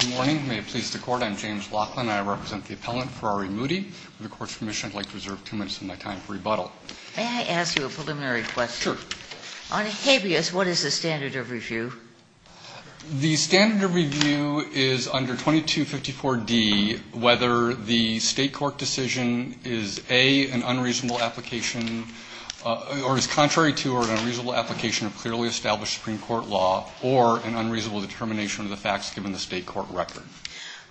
Good morning. May it please the Court. I'm James Laughlin. I represent the appellant Ferrari Moody. With the Court's permission, I'd like to reserve two minutes of my time for rebuttal. May I ask you a preliminary question? Sure. On a habeas, what is the standard of review? The standard of review is under 2254d, whether the State court decision is A, an unreasonable application or is contrary to or an unreasonable application of clearly established Supreme Court law or an unreasonable determination of the facts given the State court record.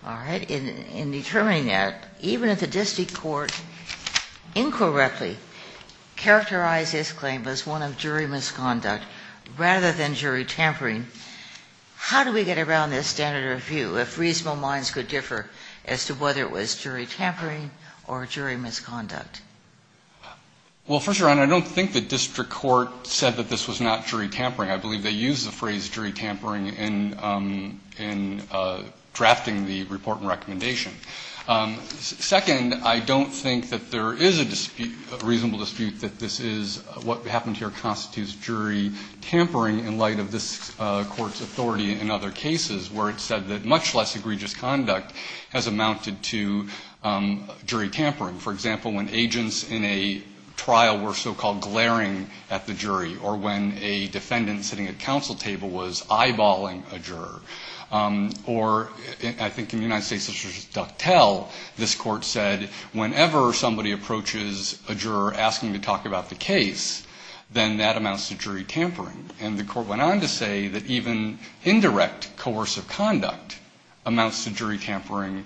All right. In determining that, even if the district court incorrectly characterized this claim as one of jury misconduct rather than jury tampering, how do we get around this standard of review if reasonable minds could differ as to whether it was jury tampering or jury misconduct? Well, First Your Honor, I don't think the district court said that this was not jury tampering. I believe they used the phrase jury tampering in drafting the report and recommendation. Second, I don't think that there is a dispute, a reasonable dispute that this is what happened here constitutes jury tampering in light of this Court's authority in other cases where it said that much less egregious conduct has amounted to jury tampering. For example, when agents in a trial were so-called glaring at the jury or when a defendant sitting at the counsel table was eyeballing a juror. Or I think in the United States, such as Duck Tell, this Court said whenever somebody approaches a juror asking to talk about the case, then that amounts to jury tampering. And the Court went on to say that even indirect coercive conduct amounts to jury tampering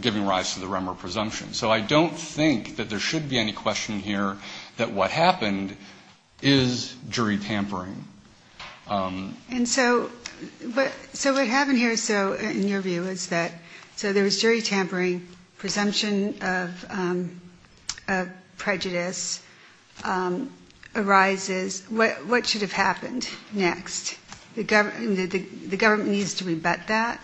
giving rise to the remor presumption. So I don't think that there happened is jury tampering. And so what happened here, so in your view, is that so there was jury tampering, presumption of prejudice arises. What should have happened next? The government needs to rebut that?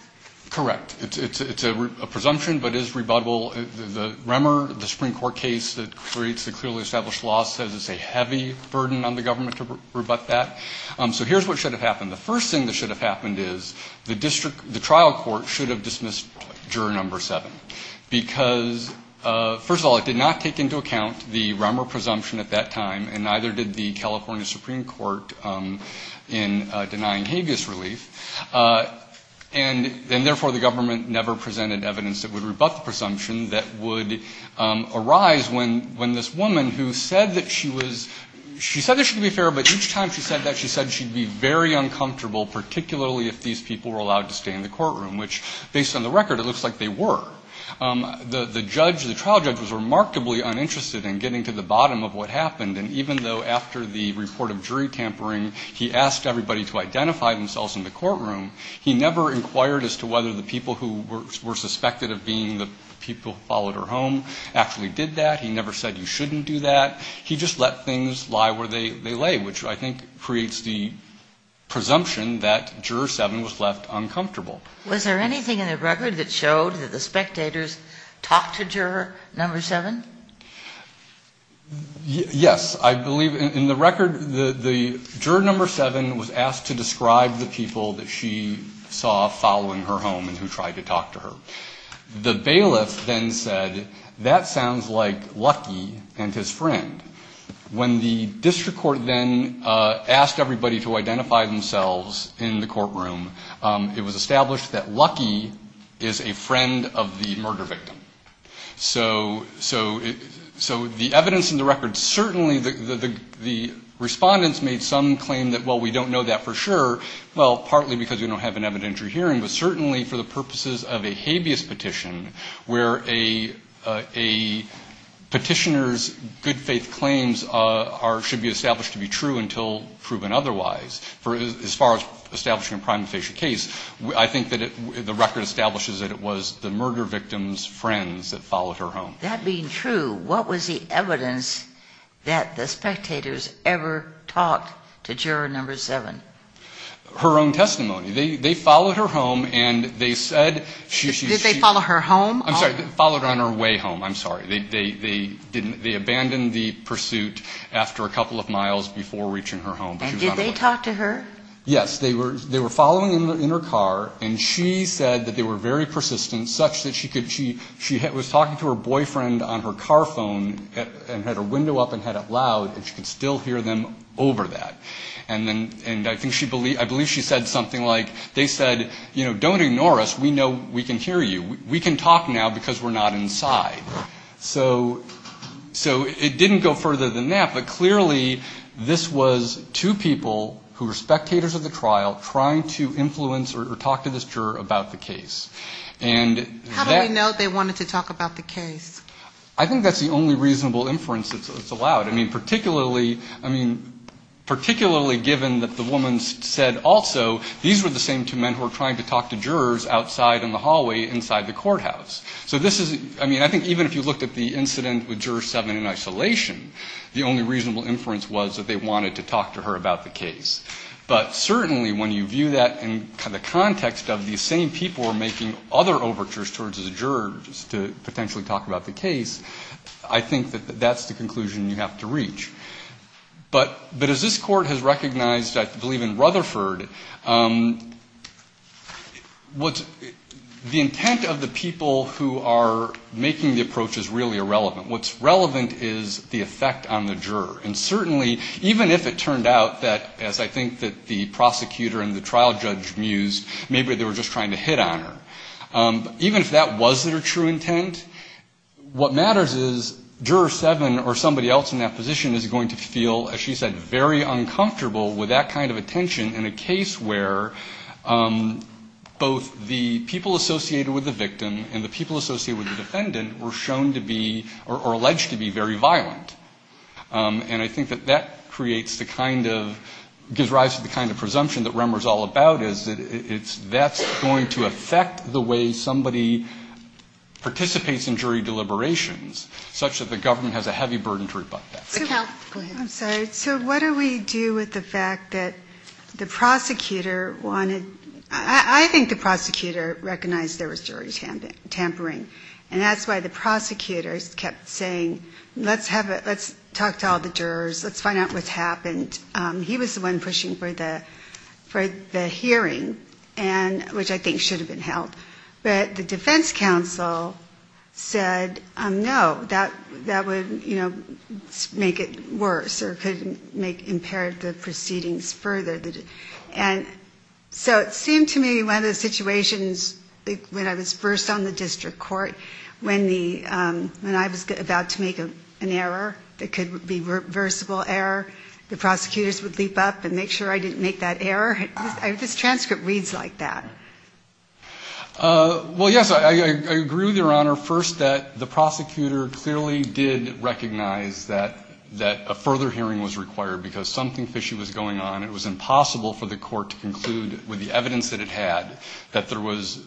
Correct. It's a presumption but is rebuttable. The remor, the Supreme Court established law says it's a heavy burden on the government to rebut that. So here's what should have happened. The first thing that should have happened is the district the trial court should have dismissed juror number seven. Because first of all, it did not take into account the remor presumption at that time and neither did the California Supreme Court in denying habeas relief. And therefore the government never presented evidence that would rebut the presumption that would arise when this woman who said that she was, she said that she could be fair, but each time she said that she said she'd be very uncomfortable, particularly if these people were allowed to stay in the courtroom, which based on the record, it looks like they were. The judge, the trial judge was remarkably uninterested in getting to the bottom of what happened. And even though after the report of jury tampering, he asked everybody to identify themselves in the courtroom, he never inquired as to whether the people who were suspected of being the people who followed her home actually did that. He never said you shouldn't do that. He just let things lie where they lay, which I think creates the presumption that juror seven was left uncomfortable. Was there anything in the record that showed that the spectators talked to juror number seven? Yes. I believe in the record the juror number seven was asked to describe the people that she saw following her home and who tried to talk to her. The bailiff then said, that sounds like Lucky and his friend. When the district court then asked everybody to identify themselves in the courtroom, it was established that Lucky is a friend of the murder victim. So the evidence in the record certainly, the respondents made some claim that, well, we didn't have an evidentiary hearing, but certainly for the purposes of a habeas petition, where a petitioner's good faith claims should be established to be true until proven otherwise, for as far as establishing a prima facie case, I think the record establishes that it was the murder victim's friends that followed her home. That being true, what was the evidence that the spectators ever talked to juror number seven? Her own testimony. They followed her home, and they said she was she was Did they follow her home? I'm sorry. Followed on her way home. I'm sorry. They abandoned the pursuit after a couple of miles before reaching her home. And did they talk to her? Yes. They were following in her car, and she said that they were very persistent, such that she could, she was talking to her boyfriend on her car phone and had her window up and head up loud, and she could still hear them over that. And I believe she said something like they said, you know, don't ignore us. We know we can hear you. We can talk now because we're not inside. So it didn't go further than that, but clearly this was two people who were spectators of the trial trying to influence or talk to this juror about the case. How do we know they wanted to talk about the case? I think that's the only reasonable inference that's allowed. I mean, particularly, I mean, particularly given that the woman said also these were the same two men who were trying to talk to jurors outside in the hallway inside the courthouse. So this is, I mean, I think even if you looked at the incident with Juror 7 in isolation, the only reasonable inference was that they wanted to talk to her about the case. But certainly when you view that in the context of these same people were making other overtures towards the jurors to potentially talk about the case, I think that that's the conclusion you have to reach. But as this Court has recognized, I believe in Rutherford, the intent of the people who are making the approach is really irrelevant. What's relevant is the effect on the juror. And certainly, even if it turned out that, as I think that the prosecutor and the trial judge did on her, even if that wasn't her true intent, what matters is Juror 7 or somebody else in that position is going to feel, as she said, very uncomfortable with that kind of attention in a case where both the people associated with the victim and the people associated with the defendant were shown to be or alleged to be very violent. And I think that that creates the kind of, gives rise to the kind of presumption that affect the way somebody participates in jury deliberations, such that the government has a heavy burden to rebut that. Go ahead. I'm sorry. So what do we do with the fact that the prosecutor wanted, I think the prosecutor recognized there was jury tampering. And that's why the prosecutors kept saying, let's have a, let's talk to all the jurors, let's find out what's happened. He was the one pushing for the hearing, which I think should have been held. But the defense counsel said, no, that would, you know, make it worse or could make, impair the proceedings further. And so it seemed to me one of the situations, when I was first on the district court, when the, when I was about to make an error that could be reversible error, the prosecutors would leap up and make sure I didn't make that error. This transcript reads like that. Well, yes, I agree with Your Honor. First, that the prosecutor clearly did recognize that a further hearing was required because something fishy was going on. It was impossible for the court to conclude with the evidence that it had that there was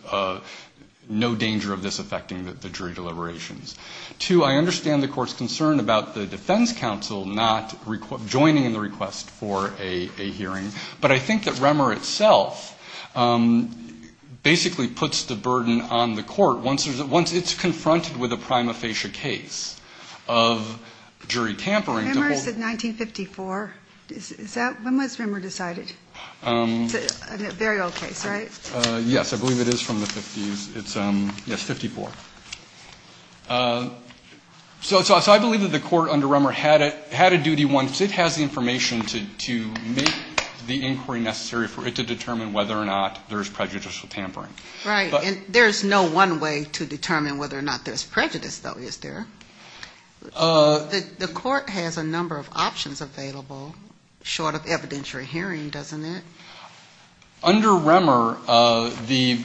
no danger of this affecting the jury deliberations. Two, I understand the court's concern about the defense counsel not joining in the request for a hearing. But I think that Remmer itself basically puts the burden on the court once there's a, once it's confronted with a prima facie case of jury tampering to hold. Remmer said 1954. Is that, when was Remmer decided? It's a very old case, right? Yes, I believe it is from the 50s. It's, yes, 54. So I believe that the court under Remmer had a duty once it has the information to make the inquiry necessary for it to determine whether or not there's prejudicial tampering. Right. And there's no one way to determine whether or not there's prejudice, though, is there? The court has a number of options available short of evidentiary hearing, doesn't it? Under Remmer, the,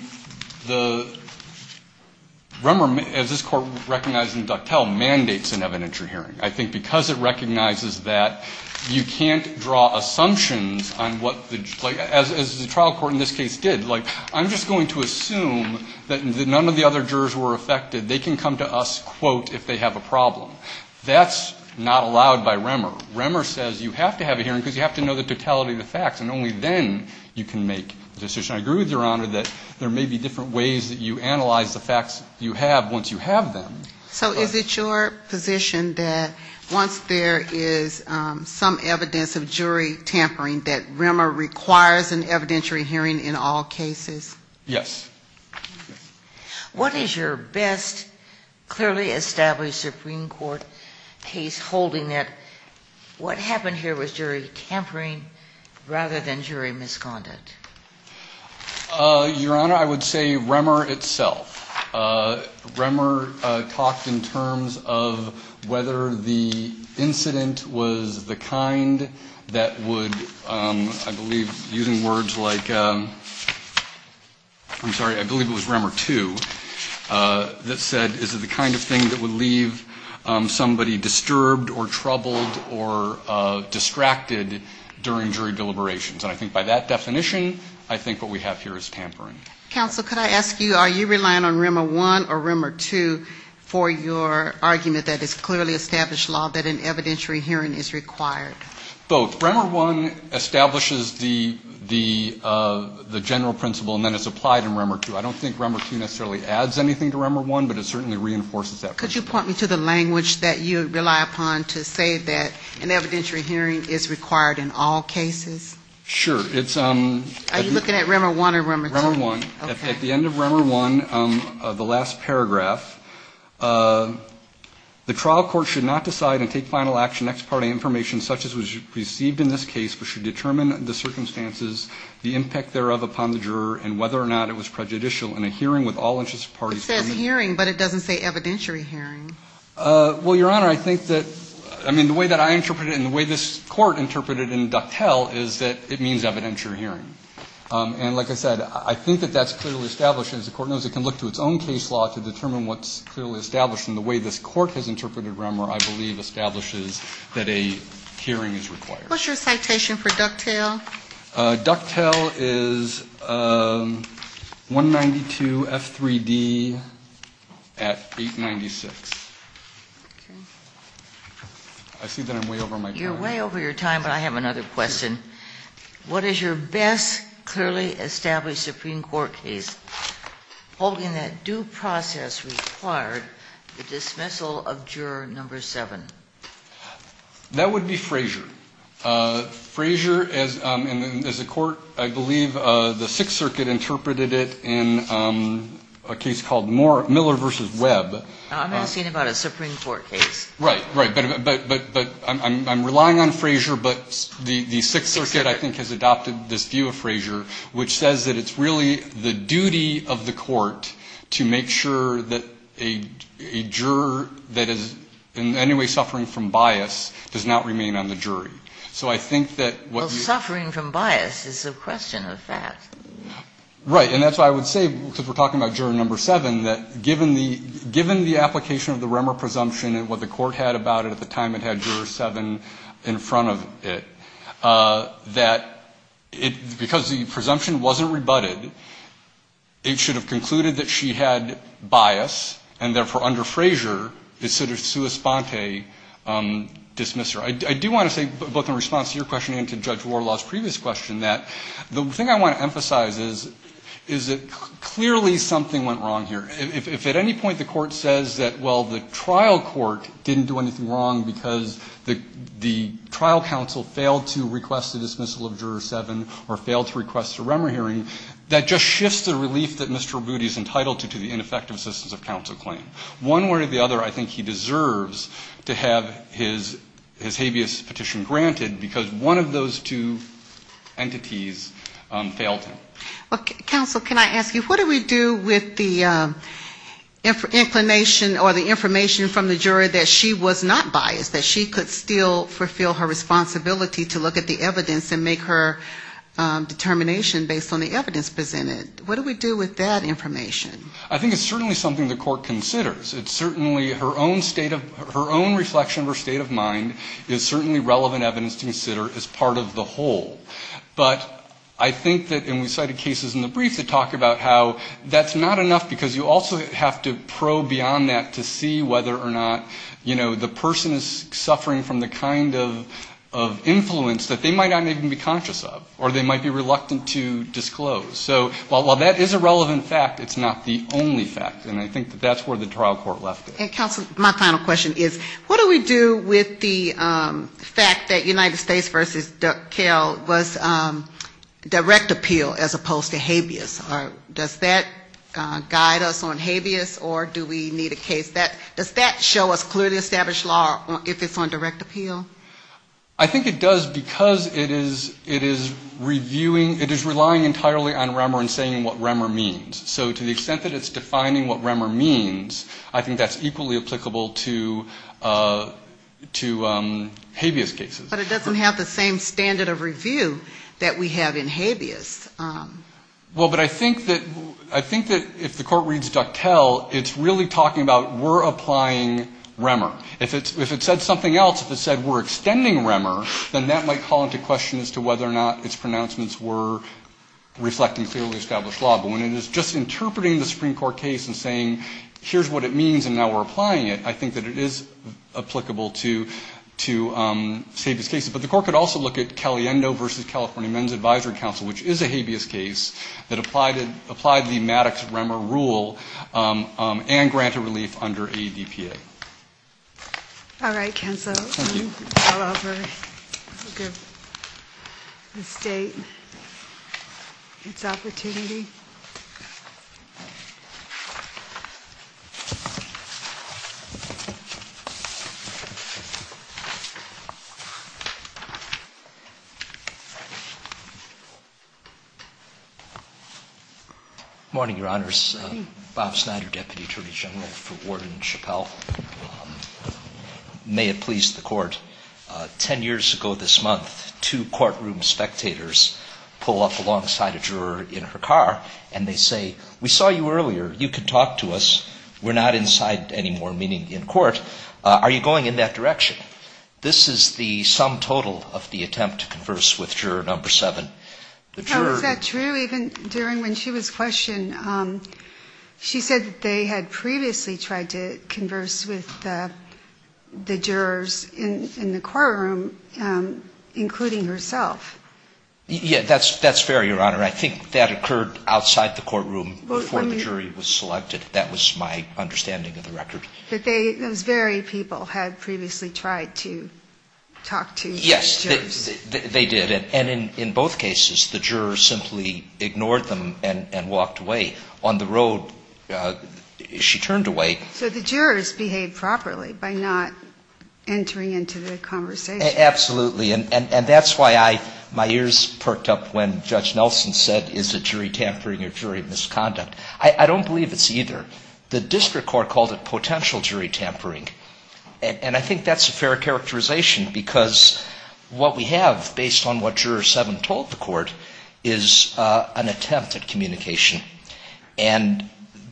Remmer, as this court recognized in Ductile, mandates an evidentiary hearing. I think because it recognizes that you can't draw assumptions on what the, like, as the trial court in this case did. Like, I'm just going to assume that none of the other jurors were affected. They can come to us, quote, if they have a problem. That's not allowed by Remmer. Remmer says you have to have a hearing because you have to know the totality of the facts. And only then you can make a decision. I agree with Your Honor that there may be different ways that you analyze the facts you have once you have them. So is it your position that once there is some evidence of jury tampering that Remmer requires an evidentiary hearing in all cases? Yes. What is your best, clearly established Supreme Court case holding that what happened here was jury tampering rather than jury misconduct? Your Honor, I would say Remmer itself. Remmer talked in terms of whether the incident was the kind that would, I believe, using words like, I'm sorry, I believe it was Remmer 2 that said, is it the kind of thing that would leave somebody disturbed or troubled or distracted during jury deliberations? And I think by that definition, I think what we have here is tampering. Counsel, could I ask you, are you relying on Remmer 1 or Remmer 2 for your argument that it's clearly established law that an evidentiary hearing is required? Both. Remmer 1 establishes the general principle and then it's applied in Remmer 2. I don't think Remmer 2 necessarily adds anything to Remmer 1, but it certainly reinforces that principle. Could you point me to the language that you rely upon to say that an evidentiary hearing is required in all cases? Sure. It's... Are you looking at Remmer 1 or Remmer 2? Remmer 1. At the end of Remmer 1, the last paragraph, the trial court should not decide and take final action next party information such as was received in this case, but should determine the circumstances, the impact thereof upon the juror, and whether or not it was prejudicial in a hearing with all interest parties... It says hearing, but it doesn't say evidentiary hearing. Well, Your Honor, I think that, I mean, the way that I interpret it and the way this Court interpreted in Ducktell is that it means evidentiary hearing. And like I said, I think that that's clearly established. As the Court knows, it can look to its own case law to determine what's clearly established. And the way this Court has interpreted Remmer, I believe, establishes that a hearing is required. What's your citation for Ducktell? Ducktell is 192 F3d at 896. I see that I'm way over my time. You're way over your time, but I have another question. What is your best clearly established Supreme Court case holding that due process required the dismissal of juror number 7? That would be Frazier. Frazier, as a court, I believe the Sixth Circuit interpreted it in a case called Miller v. Webb. I'm asking about a Supreme Court case. Right, right. But I'm relying on Frazier, but the Sixth Circuit, I think, has adopted this view of Frazier, which says that it's really the duty of the court to make sure that a juror that is in any way suffering from bias does not remain on the jury. So I think that what you are saying... Well, suffering from bias is a question of that. Right. And that's why I would say, because we're talking about juror number 7, that given the application of the Remmer presumption and what the Court had about it at the time it had juror 7 in front of it, that it, because the presumption wasn't rebutted, it should have concluded that she had bias, and therefore, under Frazier, it's sort of sua sponte, dismiss her. I do want to say, both in response to your question and to Judge Warlaw's previous question, that the thing I want to emphasize is that clearly something went wrong here. If at any point the Court says that, well, the trial court didn't do anything wrong because the trial counsel failed to request the dismissal of juror 7 or failed to request a Remmer hearing, that just shifts the relief that Mr. Rabuti is entitled to the ineffective assistance of counsel claim. One way or the other, I think he deserves to have his habeas petition granted because one of those two entities failed him. Counsel, can I ask you, what do we do with the inclination or the information from the jury that she was not biased, that she could still fulfill her responsibility to look at the evidence and make her determination based on the evidence presented? What do we do with that information? I think it's certainly something the Court considers. It's certainly her own state of, her own reflection of her state of mind is certainly relevant evidence to consider as part of the whole. But I think that, and we cited cases in the brief that talk about how that's not enough because you also have to probe beyond that to see whether or not, you know, the person is suffering from the kind of influence that they might not even be conscious of or they might be reluctant to disclose. So while that is a relevant fact, it's not the only fact. And I think that that's where the trial court left it. And, counsel, my final question is, what do we do with the fact that United States v. Duke Kale was direct appeal as opposed to habeas? Does that guide us on habeas or do we need a case? Does that show us clearly established law if it's on direct appeal? I think it does because it is reviewing, it is relying entirely on Remmer and saying what Remmer means. So to the extent that it's defining what Remmer means, I think that's equally applicable to habeas cases. But it doesn't have the same standard of review that we have in habeas. Well, but I think that if the court reads DuckTel, it's really talking about we're applying Remmer. If it said something else, if it said we're extending Remmer, then that might call into question as to whether or not its pronouncements were reflecting clearly established law. But when it is just interpreting the Supreme Court case and saying here's what it means and now we're applying it, I think that it is applicable to habeas cases. But the court could also look at Caliendo v. California Men's Advisory Council, which is a habeas case that applied the Maddox-Remmer rule and granted relief under ADPA. All right, counsel. I'll offer the State its opportunity. Good morning, Your Honors. Bob Snyder, Deputy Attorney General for Warden Chappell. May it please the Court. Ten years ago this month, two courtroom spectators pull up alongside a juror in her car and they say, we saw you earlier. You could talk to us. We're not inside anymore, meaning in court. Are you going in that direction? This is the sum total of the attempt to converse with juror number seven. Now, is that true? Even during when she was questioned, she said that they had previously tried to converse with the jurors in the courtroom, including herself. Yes, that's fair, Your Honor. I think that occurred outside the courtroom before the jury was selected. That was my understanding of the record. But they, those very people, had previously tried to talk to the jurors. Yes, they did. And in both cases, the juror simply ignored them and walked away. On the road, she turned away. So the jurors behaved properly by not entering into the conversation. Absolutely. And that's why I, my ears perked up when Judge Nelson said, is a jury tampering or jury misconduct? I don't believe it's either. The district court called it potential jury tampering. And I think that's a fair characterization because what we have, based on what juror seven told the court, is an attempt at communication. And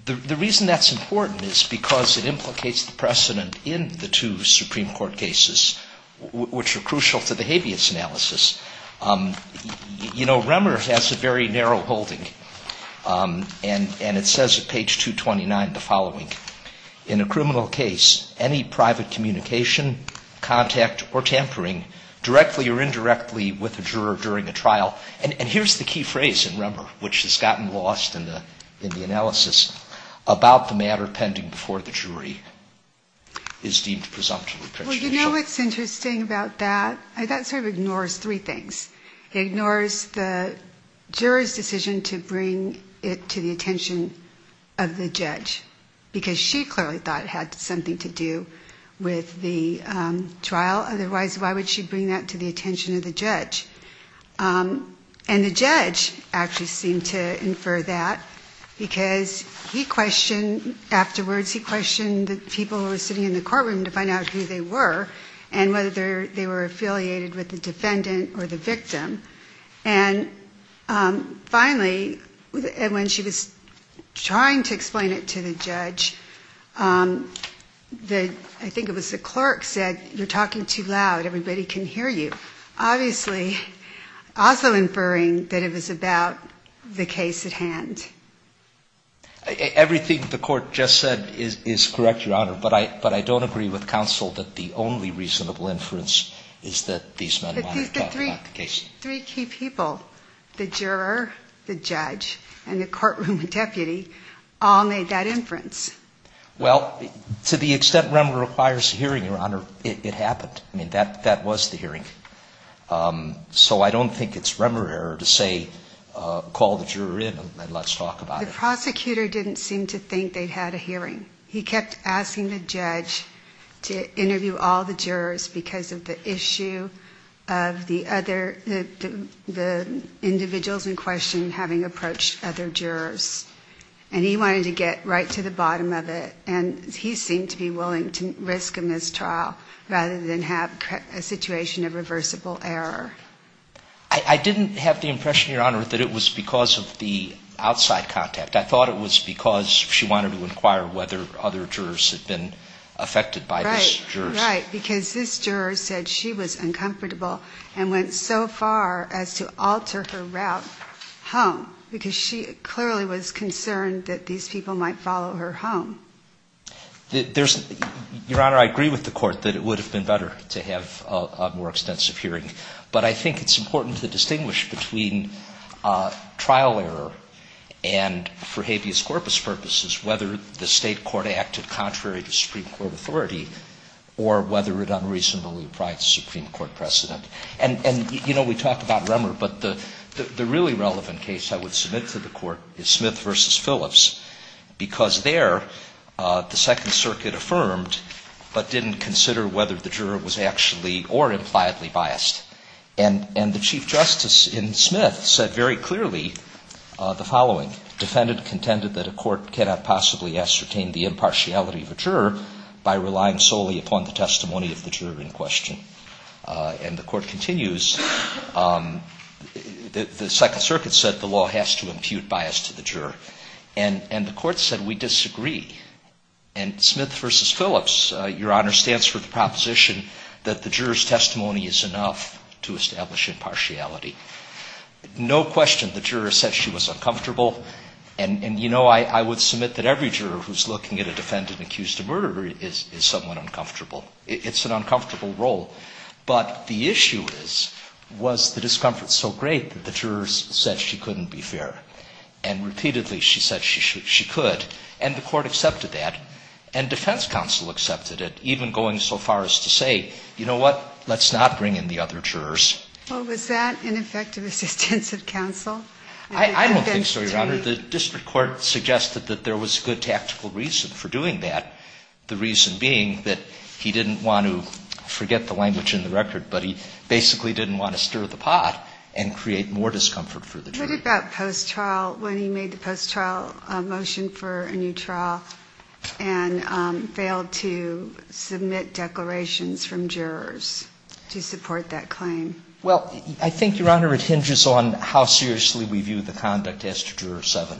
the reason that's important is because it implicates the precedent in the two Supreme Court cases, which are crucial to the habeas analysis. You know, Remmer has a very narrow holding, and it says at page 229 the following. In a criminal case, any private communication, contact, or tampering, directly or indirectly with a juror during a trial, and here's the key phrase in Remmer, which has gotten lost in the analysis, about the matter pending before the jury, is deemed presumptive repatriation. Well, you know what's interesting about that? That sort of ignores three things. It ignores the juror's decision to bring it to the attention of the judge, because she clearly thought it had something to do with the trial. Otherwise, why would she bring that to the attention of the judge? And the judge actually seemed to infer that because he questioned afterwards, because he questioned the people who were sitting in the courtroom to find out who they were, and whether they were affiliated with the defendant or the victim. And finally, when she was trying to explain it to the judge, I think it was the clerk said, you're talking too loud, everybody can hear you. Obviously, also inferring that it was about the case at hand. Everything the Court just said is correct, Your Honor, but I don't agree with counsel that the only reasonable inference is that these men wanted to talk about the case. But these are the three key people, the juror, the judge, and the courtroom deputy all made that inference. Well, to the extent Remmer requires a hearing, Your Honor, it happened. I mean, that was the hearing. So I don't think it's Remmer error to say call the juror in and let's talk about it. The prosecutor didn't seem to think they'd had a hearing. He kept asking the judge to interview all the jurors because of the issue of the other, the individuals in question having approached other jurors. And he wanted to get right to the bottom of it. And he seemed to be willing to risk a mistrial rather than have a situation of reversible error. I didn't have the impression, Your Honor, that it was because of the outside contact. I thought it was because she wanted to inquire whether other jurors had been affected by this juror. Right. Because this juror said she was uncomfortable and went so far as to alter her route home because she clearly was concerned that these people might follow her home. There's, Your Honor, I agree with the Court that it would have been better to have a more extensive hearing. But I think it's important to distinguish between trial error and, for habeas corpus purposes, whether the state court acted contrary to Supreme Court authority or whether it unreasonably applied to Supreme Court precedent. And, you know, we talked about Remmer. But the really relevant case I would submit to the Court is Smith v. Phillips because there the Second Circuit affirmed but didn't consider whether the juror was actually or impliedly biased. And the Chief Justice in Smith said very clearly the following. Defendant contended that a court cannot possibly ascertain the impartiality of a juror by relying solely upon the testimony of the juror in question. And the Court continues. The Second Circuit said the law has to impute bias to the juror. And the Court said we disagree. And Smith v. Phillips, Your Honor, stands for the proposition that the juror's testimony is enough to establish impartiality. No question the juror said she was uncomfortable. And, you know, I would submit that every juror who's looking at a defendant accused of murder is somewhat uncomfortable. It's an uncomfortable role. But the issue is, was the discomfort so great that the jurors said she couldn't be fair? And repeatedly she said she could. And the Court accepted that. And defense counsel accepted it, even going so far as to say, you know what, let's not bring in the other jurors. Well, was that ineffective assistance of counsel? I don't think so, Your Honor. The district court suggested that there was good tactical reason for doing that, the reason being that he didn't want to forget the language in the record, but he basically didn't want to stir the pot and create more discomfort for the jury. And what about post-trial, when he made the post-trial motion for a new trial and failed to submit declarations from jurors to support that claim? Well, I think, Your Honor, it hinges on how seriously we view the conduct as to Juror 7.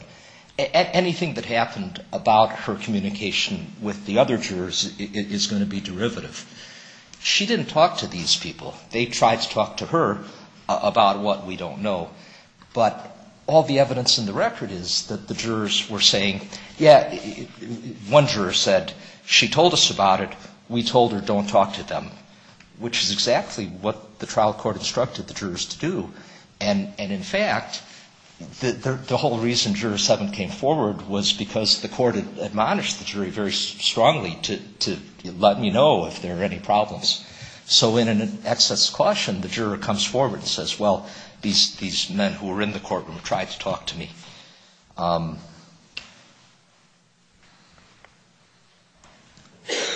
Anything that happened about her communication with the other jurors is going to be derivative. She didn't talk to these people. They tried to talk to her about what we don't know. But all the evidence in the record is that the jurors were saying, yeah, one juror said she told us about it, we told her don't talk to them, which is exactly what the trial court instructed the jurors to do. And in fact, the whole reason Juror 7 came forward was because the court admonished the jury very strongly to let me know if there were any problems. So in an excess caution, the juror comes forward and says, well, these men who were in the courtroom tried to talk to me.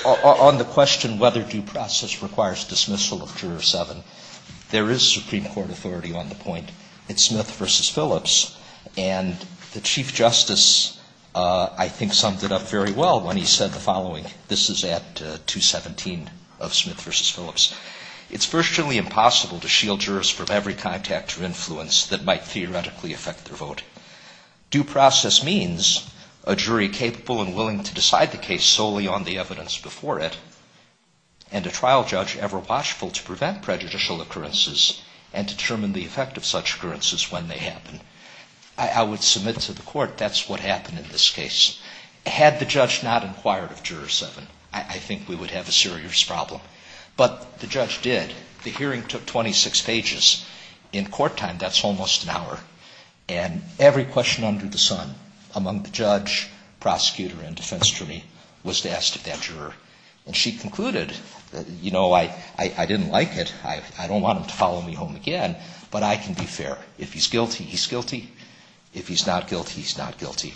On the question whether due process requires dismissal of Juror 7, there is Supreme Court authority on the point. It's Smith v. Phillips. And the Chief Justice, I think, summed it up very well when he said the following. This is at 217 of Smith v. Phillips. It's virtually impossible to shield jurors from every contact or influence that might theoretically affect their vote. Due process means a jury capable and willing to decide the case solely on the evidence before it and a trial judge ever watchful to prevent prejudicial occurrences and determine the effect of such occurrences when they happen. I would submit to the court that's what happened in this case. Had the judge not inquired of Juror 7, I think we would have a serious problem. But the judge did. The hearing took 26 pages. In court time, that's almost an hour. And every question under the sun among the judge, prosecutor, and defense jury was to ask of that juror. And she concluded, you know, I didn't like it. I don't want him to follow me home again, but I can be fair. If he's guilty, he's guilty. If he's not guilty, he's not guilty.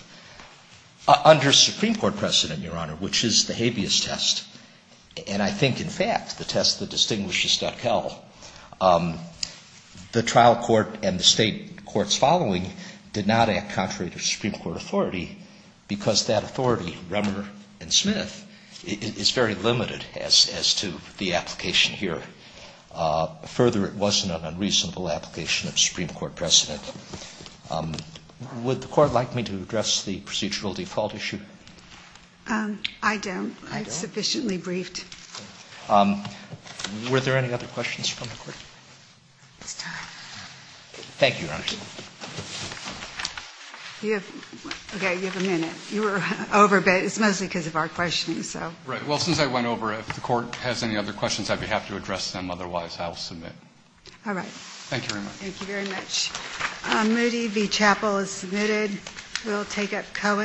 Under Supreme Court precedent, Your Honor, which is the habeas test, and I think in fact the test that distinguishes Duckell, the trial court and the State courts following did not act contrary to Supreme Court authority because that authority, Rummer and Smith, is very limited as to the application here. Further, it wasn't an unreasonable application of Supreme Court precedent. Would the Court like me to address the procedural default issue? I don't. I've sufficiently briefed. Were there any other questions from the Court? It's time. Thank you, Your Honor. Okay. You have a minute. You were over, but it's mostly because of our questioning, so. Right. Well, since I went over, if the Court has any other questions, I'd be happy to address them. Otherwise, I'll submit. All right. Thank you very much. Moody v. Chappell is submitted. We'll take up Cohen.